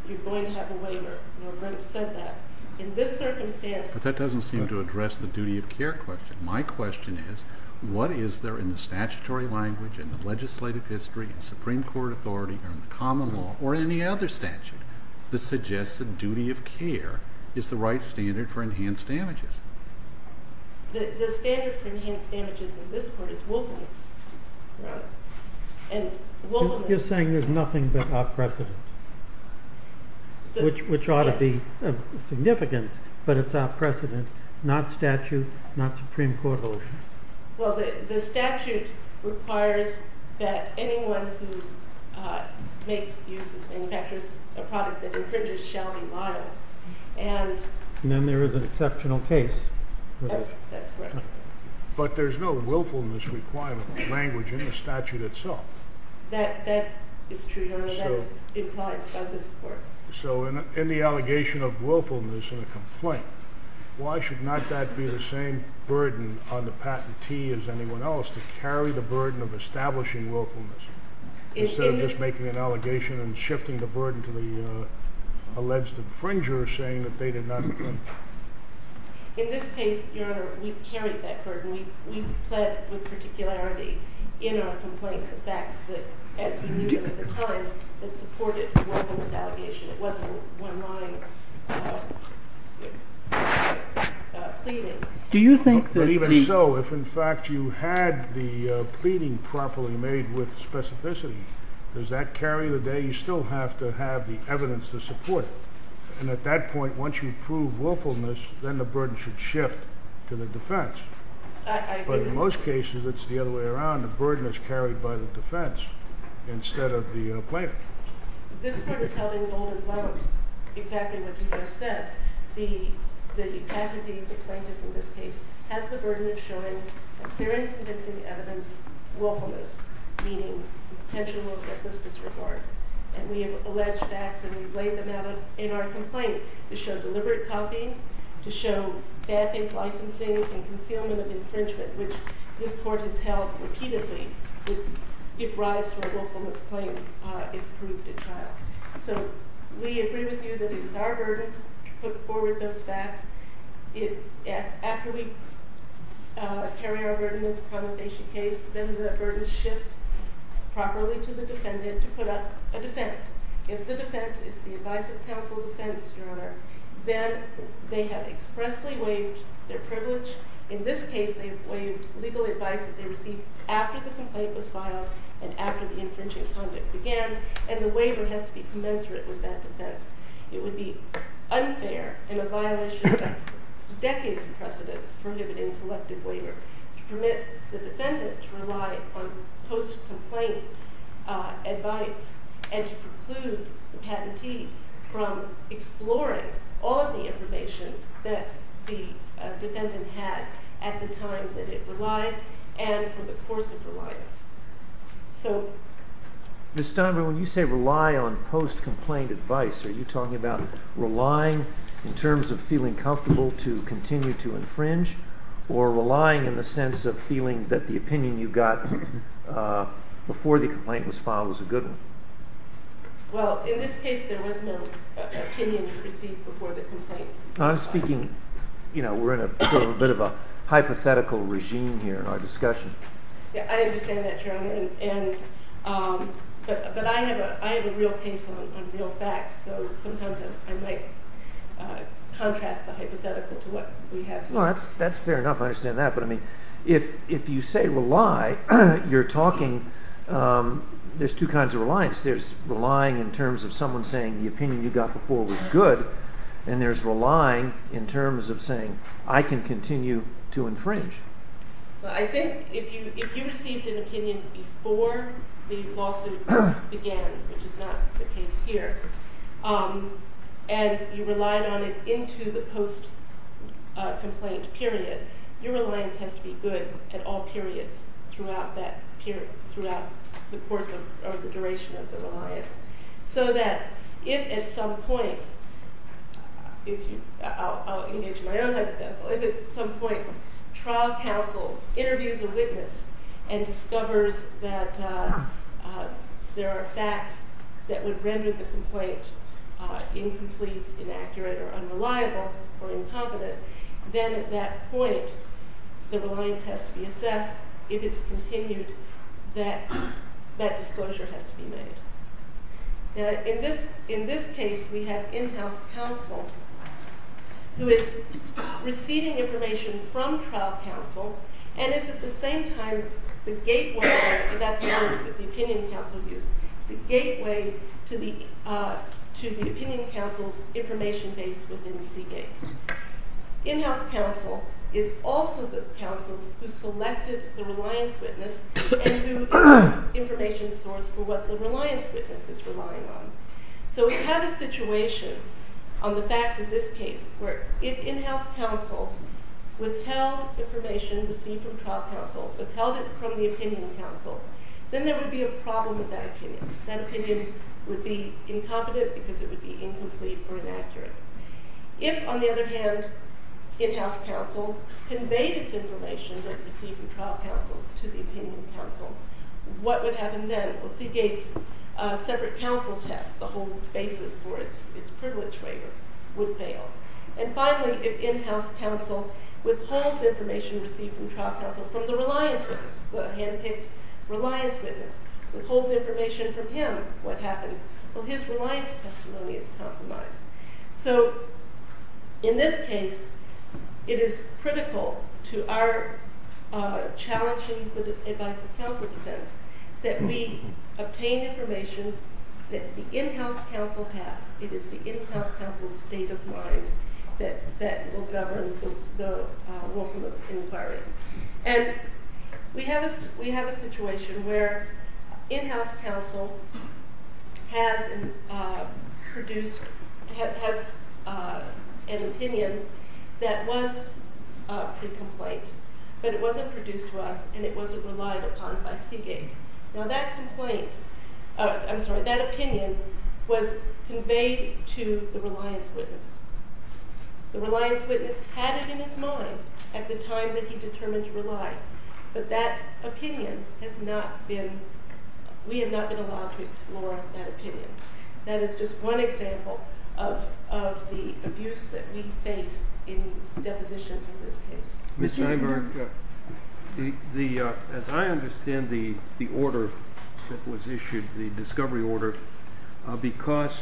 you're going to have a waiver. Norbert said that. In this circumstance... But that doesn't seem to address the duty of care question. My question is, what is there in the statutory language, in the legislative history, in Supreme Court authority, or in the common law, or in any other statute, that suggests that duty of care is the right standard for enhanced damages? The standard for enhanced damages in this court is wilfulness. Right? And, wilfulness... You're saying there's nothing but off-precedent. Yes. Which ought to be of significance, but it's off-precedent. Not statute, not Supreme Court authority. Well, the statute requires that anyone who makes, uses, manufactures a product that infringes shall be liable. And... Exceptional case. That's correct. But there's no willfulness requirement language in the statute itself. That is true. That's implied by this court. So, in the allegation of willfulness in a complaint, why should not that be the same burden on the patentee as anyone else to carry the burden of establishing willfulness instead of just making an allegation and shifting the burden to the alleged infringer saying that they did not... In this case, Your Honor, we carried that burden. We pled with particularity in our complaint the facts that, as we knew them at the time, that supported the willfulness allegation. It wasn't one-line... ...pleading. Do you think that... Even so, if in fact you had the pleading properly made with specificity, does that carry the day? You still have to have the evidence to support it. And at that point, once you prove willfulness, then the burden should shift to the defense. But in most cases, it's the other way around. The burden is carried by the defense instead of the plaintiff. This court is held in bold and loud exactly what you just said. The patentee, the plaintiff in this case, has the burden of showing a clear and convincing evidence willfulness, meaning potential willfulness disregard. And we have alleged facts and we've laid them out in our complaint to show deliberate copying, to show bad faith licensing and concealment of infringement, which this court has held repeatedly if rise to a willfulness claim if proved at trial. So we agree with you that it is our burden to put forward those facts. After we carry our burden as a promulgation case, then the burden shifts properly to the defendant to put up a defense. If the defense is the advice of counsel defense, Your Honor, then they have expressly waived their privilege. In this case, they've waived legal advice that they received after the complaint was filed and after the infringing conduct began and the waiver has to be commensurate with that defense. It would be unfair and a violation of decades precedent prohibiting selective waiver to permit the defendant to rely on post-complaint advice and to preclude the patentee from exploring all of the information that the defendant had at the time that it relied and from the course of reliance. So... Ms. Steinberg, when you say rely on post-complaint advice, are you talking about relying in terms of feeling comfortable to continue to infringe or relying in the sense of feeling that the opinion you got before the complaint was filed was a good one? Well, in this case, there was no opinion you received before the complaint. I'm speaking... You know, we're in a bit of a hypothetical regime here in our discussion. Yeah, I understand that, Your Honor. And... But I have a real case on real facts, so sometimes I might contrast the hypothetical to what we have here. No, that's fair enough. I understand that. But, I mean, if you say rely, you're talking... There's two kinds of reliance. There's relying in terms of someone saying the opinion you got before was good, and there's relying in terms of saying I can continue to infringe. I think if you received an opinion before the lawsuit began, which is not the case here, and you relied on it into the post-complaint period, your reliance has to be good at all periods throughout that period, throughout the course of... or the duration of the reliance. So that if at some point... If you... I'll engage my own hypothetical. If at some point trial counsel interviews a witness and discovers that there are facts that would render the complaint or unreliable or incompetent, then at that point the reliance has to be assessed if it's continued, that that disclosure has to be made. Now, in this case, we have in-house counsel who is receiving information from trial counsel and is at the same time the gateway... That's the word that the opinion counsel used. The gateway to the opinion counsel's information base within Seagate. In-house counsel is also the counsel who selected the reliance witness and who is the information source for what the reliance witness is relying on. So we have a situation on the facts of this case where if in-house counsel withheld information received from trial counsel, withheld it from the opinion counsel, then there would be a problem with that opinion. That opinion would be incompetent because it would be incomplete or inaccurate. If, on the other hand, in-house counsel conveyed its information that it received from trial counsel to the opinion counsel, what would happen then? Well, Seagate's separate counsel test, the whole basis for its privilege waiver, would fail. And finally, if in-house counsel withholds information received from trial counsel from the reliance witness, the hand-picked reliance witness, withholds information from him, what happens? Well, his reliance testimony is compromised. So in this case, it is critical to our challenging the advice of counsel defense that we obtain information that the in-house counsel had. It is the in-house counsel's state of mind that will govern the willfulness inquiry. And we have a situation where in-house counsel has an opinion that was pre-complaint, but it wasn't produced to us, and it wasn't relied upon by Seagate. Now, that opinion was conveyed to the reliance witness. The reliance witness had it in his mind at the time that he determined to rely, but we have not been allowed to explore that opinion. That is just one example of the abuse that we faced in depositions in this case. Mr. Eiberg, as I understand the order that was issued, the discovery order, because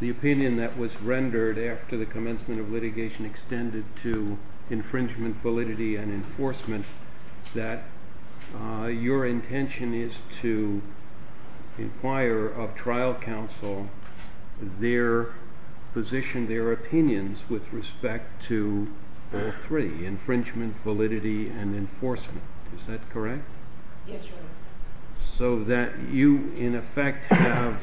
the opinion that was rendered after the commencement of litigation extended to infringement validity and enforcement, that your intention is to inquire of trial counsel their position, their opinions with respect to all three, infringement validity and enforcement. Is that correct? Yes, Your Honor. So that you, in effect, have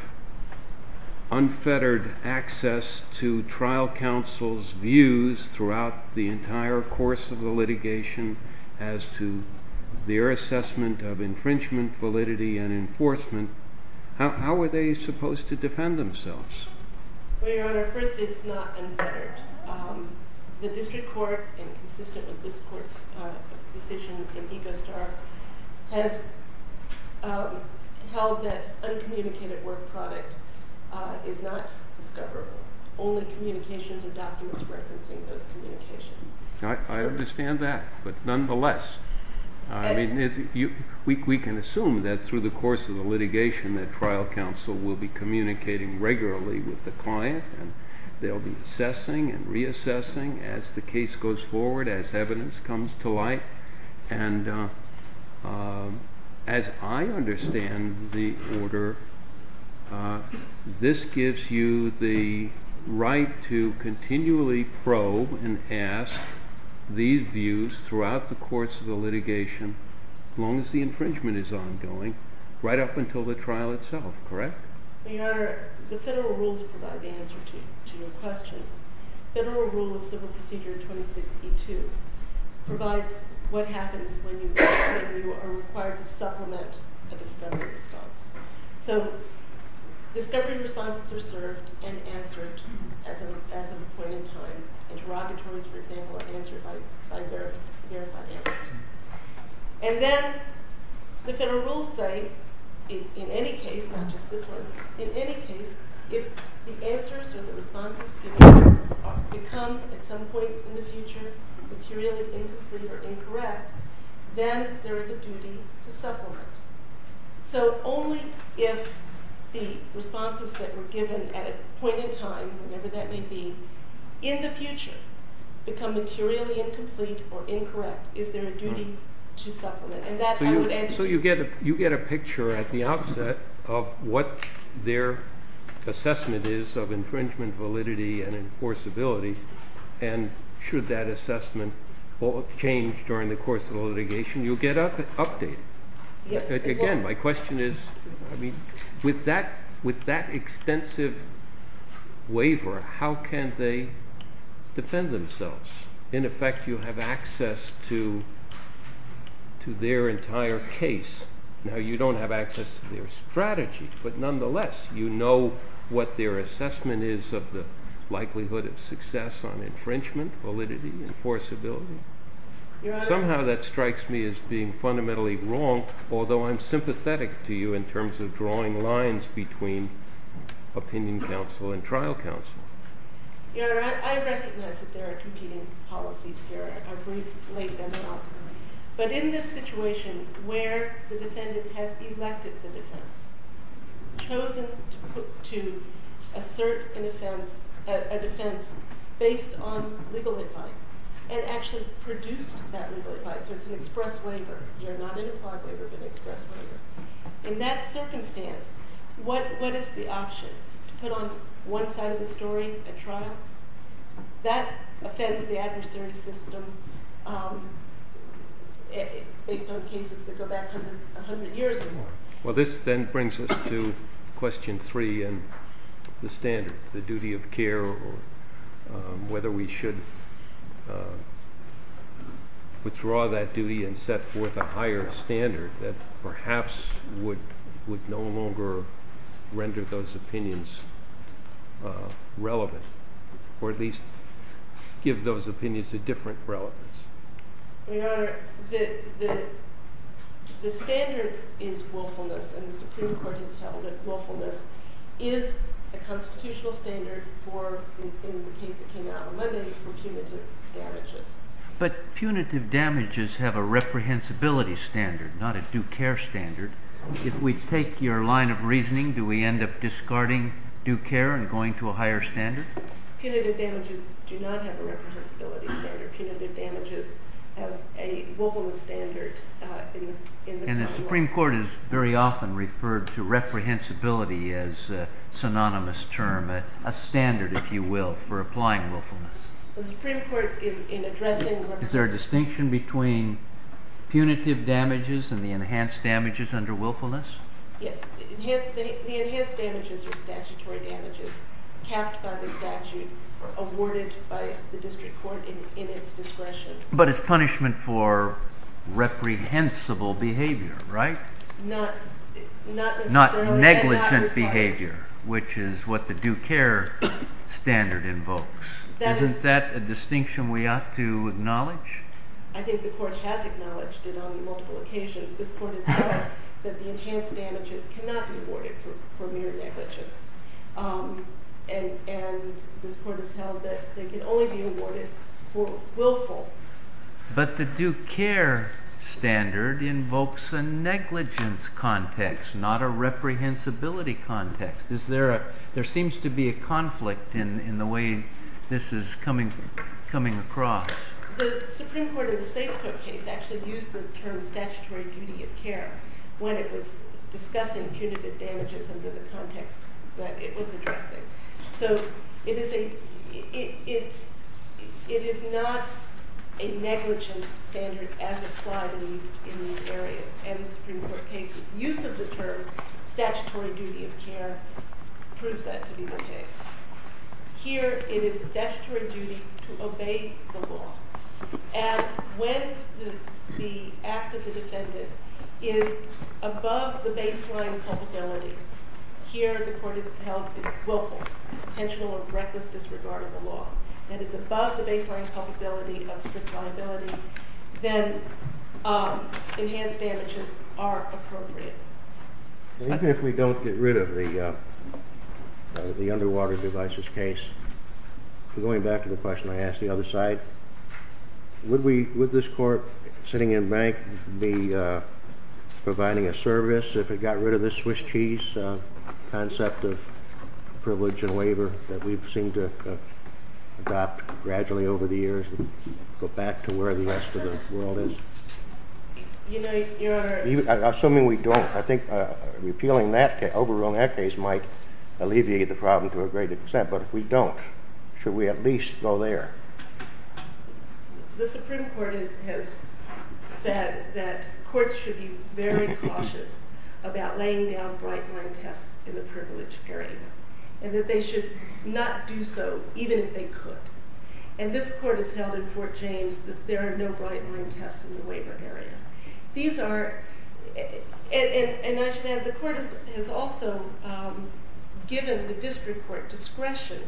unfettered access to trial counsel's views throughout the entire course of the litigation as to their assessment of infringement validity and enforcement. How are they supposed to defend themselves? Well, Your Honor, first it's not unfettered. The district court, and consistent with this court's decision in EcoStar, has held that uncommunicated work product is not discoverable. Only communications and documents referencing those communications. I understand that, but nonetheless, we can assume that through the course of the litigation, that trial counsel will be communicating regularly with the client. They'll be assessing and reassessing as the case goes forward, as evidence comes to light. And as I understand the order, this gives you the right to continually probe and ask these views throughout the course of the litigation as long as the infringement is ongoing right up until the trial itself, correct? Well, Your Honor, the federal rules provide the answer to your question. Federal Rule of Civil Procedure 26E2 provides what happens when you are required to supplement a discovery response. So discovery responses are served and answered as a point in time. Interrogatories, for example, are answered by verified answers. And then the federal rules say in any case, not just this one, in any case, if the answers or the responses given become at some point in the future materially incomplete or incorrect, then there is a duty to supplement. So only if the responses that were given at a point in time, whenever that may be, in the future become materially incomplete or incorrect, is there a duty to supplement. So you get a picture at the outset of what their assessment is of infringement validity and enforceability and should that assessment change during the course of the litigation, you get an update. Again, my question is, with that extensive waiver, how can they defend themselves? In effect, you have access to their entire case. Now, you don't have access to their strategy, but nonetheless, you know what their assessment is of the likelihood of success on infringement validity and enforceability. Somehow that strikes me as being fundamentally wrong, although I'm sympathetic to you in terms of drawing lines between opinion counsel and trial counsel. You know, I recognize that there are competing policies here. I've laid them out. But in this situation, where the defendant has elected the defense, chosen to assert a defense based on legal advice, and actually produced that legal advice, so it's an express waiver. You're not an implied waiver, but an express waiver. In that circumstance, what is the option to put on one side of the story at trial? That offends the adversary system based on cases that go back 100 years or more. Well, this then brings us to question 3 and the standard, the duty of care, whether we should withdraw that duty and set forth a higher standard that perhaps would no longer render those opinions relevant, or at least give those opinions a different relevance. Your Honor, the standard is willfulness, and the Supreme Court has held that willfulness is a constitutional standard for, in the case that came out on Monday, for punitive damages. But punitive damages have a reprehensibility standard, not a due care standard. If we take your line of reasoning, do we end up discarding due care and going to a higher standard? Punitive damages do not have a reprehensibility standard. Punitive damages have a willfulness standard. And the Supreme Court has very often referred to reprehensibility as a synonymous term, a standard, if you will, for applying willfulness. The Supreme Court, in addressing... Is there a distinction between punitive damages and the enhanced damages under willfulness? Yes. The enhanced damages are statutory damages capped by the statute or awarded by the district court in its discretion. But it's punishment for reprehensible behavior, right? Not necessarily... Not negligent behavior, Isn't that a distinction we ought to acknowledge? I think the court has acknowledged it on multiple occasions. This court has said that the enhanced damages cannot be awarded for mere negligence. And this court has held that they can only be awarded for willful. But the due care standard invokes a negligence context, not a reprehensibility context. There seems to be a conflict in the way this is coming across. The Supreme Court in the St. Croix case actually used the term statutory duty of care when it was discussing punitive damages under the context that it was addressing. So it is not a negligence standard as applied in these areas. And the Supreme Court case's use of the term statutory duty of care proves that to be the case. Here it is a statutory duty to obey the law. And when the act of the defendant is above the baseline culpability, here the court has held it willful, intentional or reckless disregard of the law, and is above the baseline culpability of strict liability, then enhanced damages are appropriate. Even if we don't get rid of the underwater devices case, going back to the question I asked the other side, would this court sitting in bank be providing a service if it got rid of this Swiss cheese concept of privilege and waiver that we've seen to adopt gradually over the years and go back to where the rest of the world is? Assuming we don't, I think repealing that case, overruling that case, might alleviate the problem to a greater extent. But if we don't, should we at least go there? The Supreme Court has said that courts should be very cautious about laying down bright-line tests in the privilege area, and that they should not do so, even if they could. And this court has held in Fort James that there are no bright-line tests in the waiver area. The court has also given the district court discretion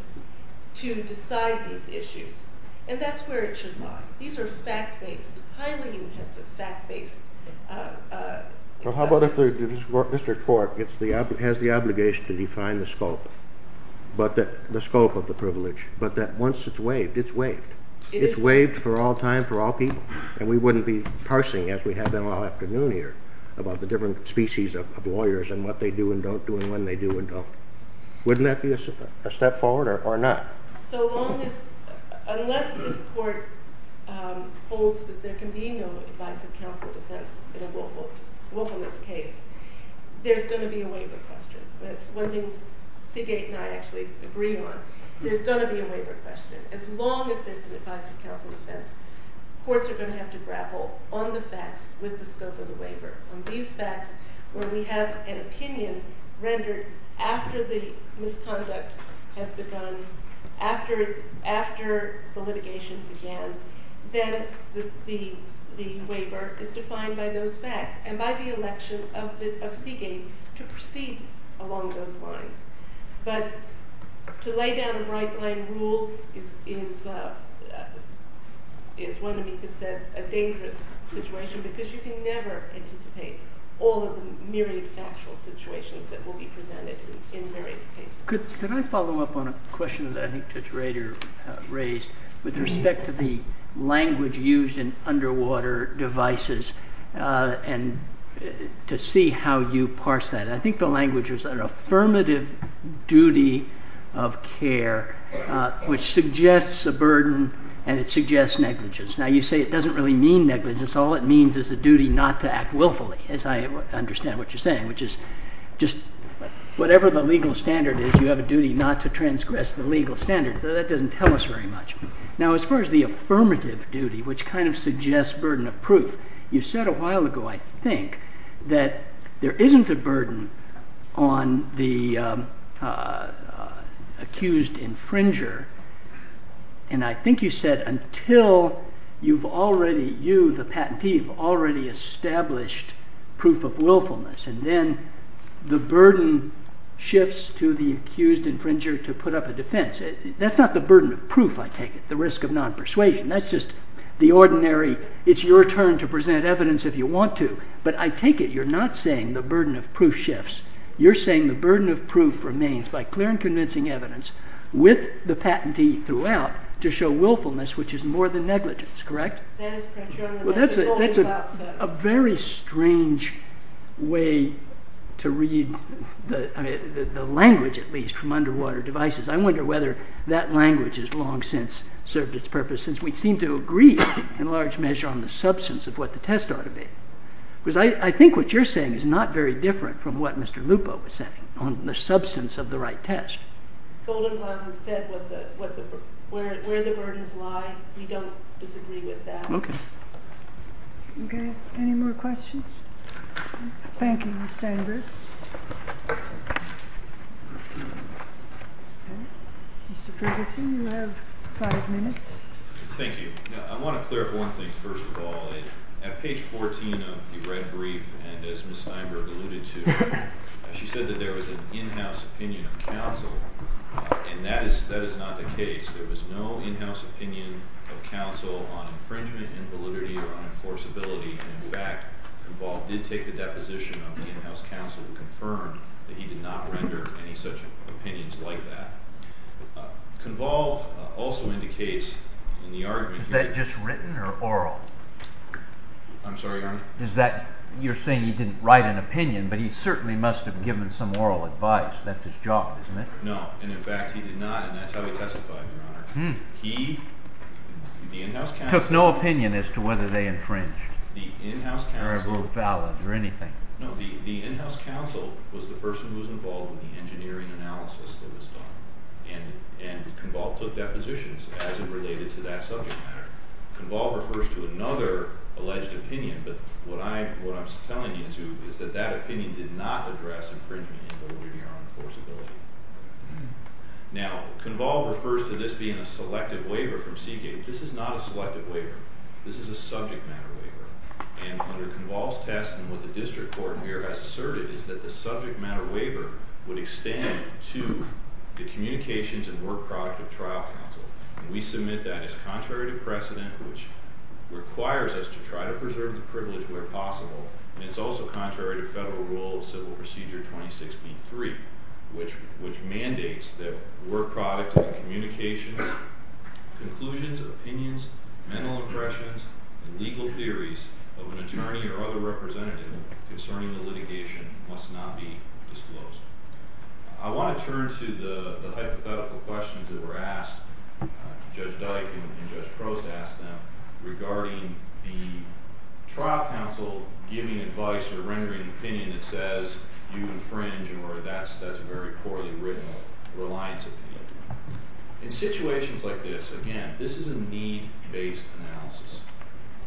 to decide these issues, and that's where it should lie. These are highly intensive, fact-based... How about if the district court has the obligation to define the scope of the privilege, but that once it's waived, it's waived. It's waived for all time, for all people, and we wouldn't be parsing, as we have been all afternoon here, about the different species of lawyers and what they do and don't do, and when they do and don't. Wouldn't that be a step forward, or not? Unless this court holds that there can be no divisive counsel defense in a willfulness case, there's going to be a waiver question. That's one thing Seagate and I actually agree on. There's going to be a waiver question, as long as there's a divisive counsel defense. Courts are going to have to grapple on the facts with the scope of the waiver. On these facts, where we have an opinion rendered after the misconduct has begun, after the litigation began, then the waiver is defined by those facts and by the election of Seagate to proceed along those lines. But to lay down a right-line rule is, as one amicus said, a dangerous situation, because you can never anticipate all of the myriad factual situations that will be presented in various cases. Could I follow up on a question that I think Judge Rader raised with respect to the language used in underwater devices and to see how you parse that? I think the language is an affirmative duty of care, which suggests a burden and it suggests negligence. Now you say it doesn't really mean negligence. All it means is a duty not to act willfully, as I understand what you're saying, which is just whatever the legal standard is, you have a duty not to transgress the legal standards. That doesn't tell us very much. Now as far as the affirmative duty, which kind of suggests burden of proof, you said a while ago, I think, that there isn't a burden on the accused infringer and I think you said until you, the patentee, have already established proof of willfulness and then the burden shifts to the accused infringer to put up a defense. That's not the burden of proof, I take it, the risk of non-persuasion. That's just the ordinary it's your turn to present evidence if you want to, but I take it you're not saying the burden of proof shifts. You're saying the burden of proof remains by clear and convincing evidence with the patentee throughout to show willfulness, which is more than negligence, correct? That's a very strange way to read the language, at least, from underwater devices. I wonder whether that language has long since served its purpose since we seem to agree in large measure on the substance of what the test ought to be. Because I think what you're saying is not very different from what Mr. Lupo was saying on the substance of the right test. Goldenrod has said where the burdens lie. We don't disagree with that. Any more questions? Thank you, Ms. Steinberg. Mr. Ferguson, you have five minutes. Thank you. I want to clear up one thing, first of all. At page 14 of the red brief and as Ms. Steinberg alluded to, she said that there was an in-house opinion of counsel and that is not the case. There was no in-house opinion of counsel on infringement, invalidity, or unenforceability. In fact, Conval did take the deposition of the in-house counsel to confirm that he did not render any such opinions like that. Is that just written or oral? I'm sorry, Your Honor? You're saying he didn't write an opinion, but he certainly must have given some oral advice. That's his job, isn't it? No, and in fact he did not, and that's how he testified, Your Honor. He took no opinion as to whether they infringed or were valid or anything. No, the in-house counsel was the person who was involved in the engineering analysis that was done, and Conval took depositions as it related to that subject matter. Conval refers to another alleged opinion, but what I'm telling you is that that opinion did not address infringement, invalidity, or unenforceability. Now, Conval refers to this being a selective waiver from Seagate. This is not a selective waiver. This is a subject matter waiver, and under Conval's test and what the district court here has asserted is that the subject matter waiver would extend to the communications and work product of trial counsel, and we submit that as contrary to precedent, which requires us to try to preserve the privilege where possible, and it's also contrary to federal rule of civil procedure 26B3, which mandates that work product and communications, conclusions, opinions, mental impressions, and legal theories of an attorney or other representative concerning the litigation must not be disclosed. I want to turn to the hypothetical questions that were asked, Judge Dyke and Judge Prost asked them, regarding the trial counsel giving advice or rendering an opinion that says you infringe or that's a very poorly written reliance opinion. In situations like this, again, this is a need-based analysis,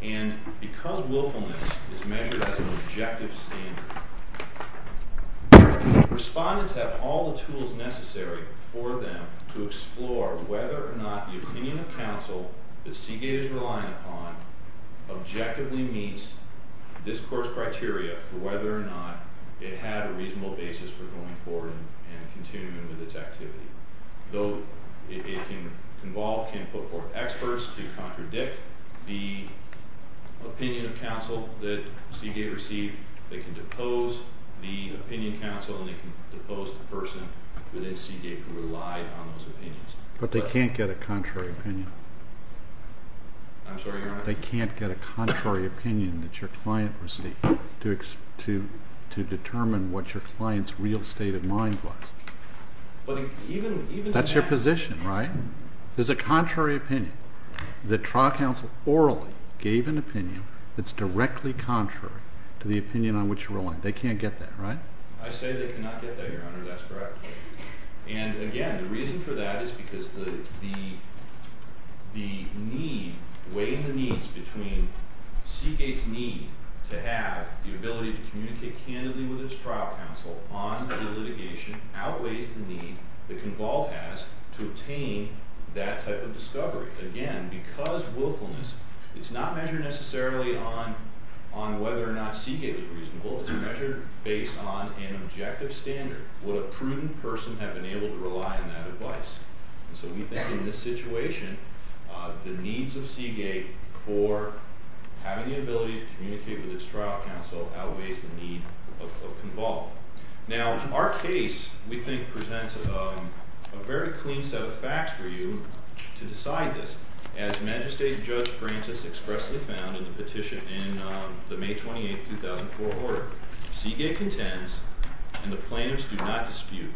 and because willfulness is measured as an objective standard, respondents have all the tools necessary for them to explore whether or not the opinion of counsel that Seagate is relying upon objectively meets this course criteria for whether or not it had a reasonable basis for going forward and continuing with its activity. Though it can involve, can put forth experts to contradict the opinion of counsel that Seagate received, they can depose the opinion counsel, and they can depose the person within Seagate who relied on those opinions. But they can't get a contrary opinion. I'm sorry, Your Honor? They can't get a contrary opinion that your client received to determine what your client's real state of mind was. But even... That's your position, right? There's a contrary opinion that trial counsel orally gave an opinion that's directly contrary to the opinion on which you rely. They can't get that, right? I say they cannot get that, Your Honor. That's correct. And again, the reason for that is because the need, weighing the needs between Seagate's need to have the ability to communicate candidly with its trial counsel on the litigation outweighs the need the convolved has to obtain that type of discovery. Again, because willfulness, it's not measured necessarily on whether or not Seagate was reasonable. It's measured based on an objective standard. Would a prudent person have been able to rely on that advice? And so we think in this situation, the needs of Seagate for having the ability to communicate with its trial counsel outweighs the need of convolved. Now, in our case, we think presents a very clean set of facts for you to decide this. As Magistrate Judge Francis expressly found in the petition in the May 28, 2004 order, Seagate contends and the plaintiffs do not dispute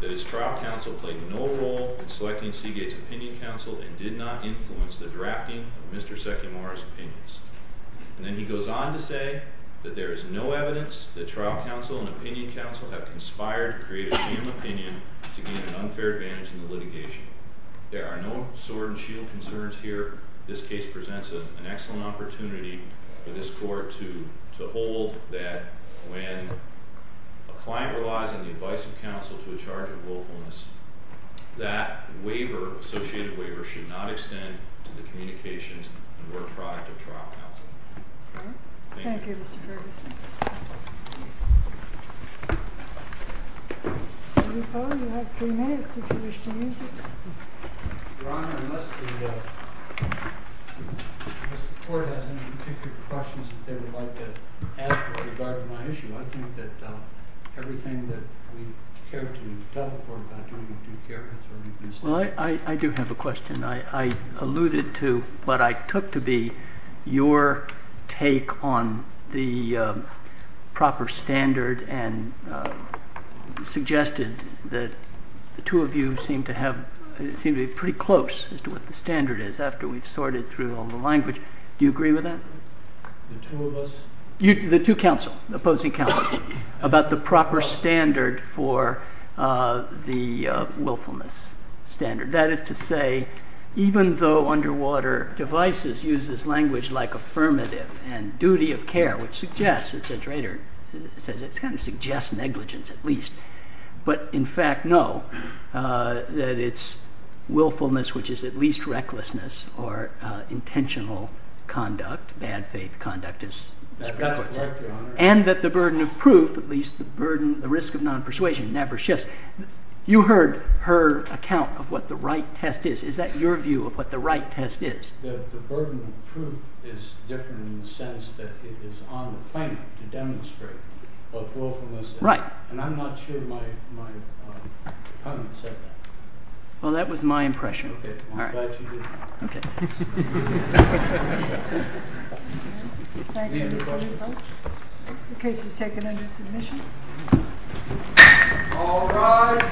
that its trial counsel played no role in selecting Seagate's opinion counsel and did not influence the drafting of Mr. Sekimora's opinions. And then he goes on to say that there is no evidence that trial counsel and opinion counsel have conspired to create a new opinion to gain an unfair advantage in the litigation. There are no sword and shield concerns here. This case presents an excellent opportunity for this Court to hold that when a client relies on the advice of counsel to a charge of willfulness, that waiver, associated waiver, should not extend to the communications and work product of trial counsel. Thank you. Thank you, Mr. Ferguson. You have three minutes if you wish to use it. Your Honor, I must be sure that Mr. Ford has any particular questions that they would like to ask with regard to my issue. I think that everything that we care to tell the Court about doing what we care has already been said. Well, I do have a question. I alluded to what I took to be your take on the proper standard and suggested that the two of you seem to have seemed to be pretty close as to what the standard is after we've sorted through all the language. Do you agree with that? The two of us? The two counsel, the opposing counsel, about the proper standard for the willfulness standard. That is to say even though underwater devices uses language like affirmative and duty of care, which suggests, as the traitor says, it kind of suggests negligence at least, but in fact no, that it's willfulness, which is at least recklessness or intentional conduct, bad faith conduct, and that the burden of proof, at least the risk of non-persuasion never shifts. You heard her account of what the right test is. Is that your view of what the right test is? The burden of proof is different in the sense that it is on the claim to demonstrate both willfulness and non-persuasion. Well, that was my impression. Okay. I'm glad you did. Okay. Any other questions? The case is taken under submission. All rise.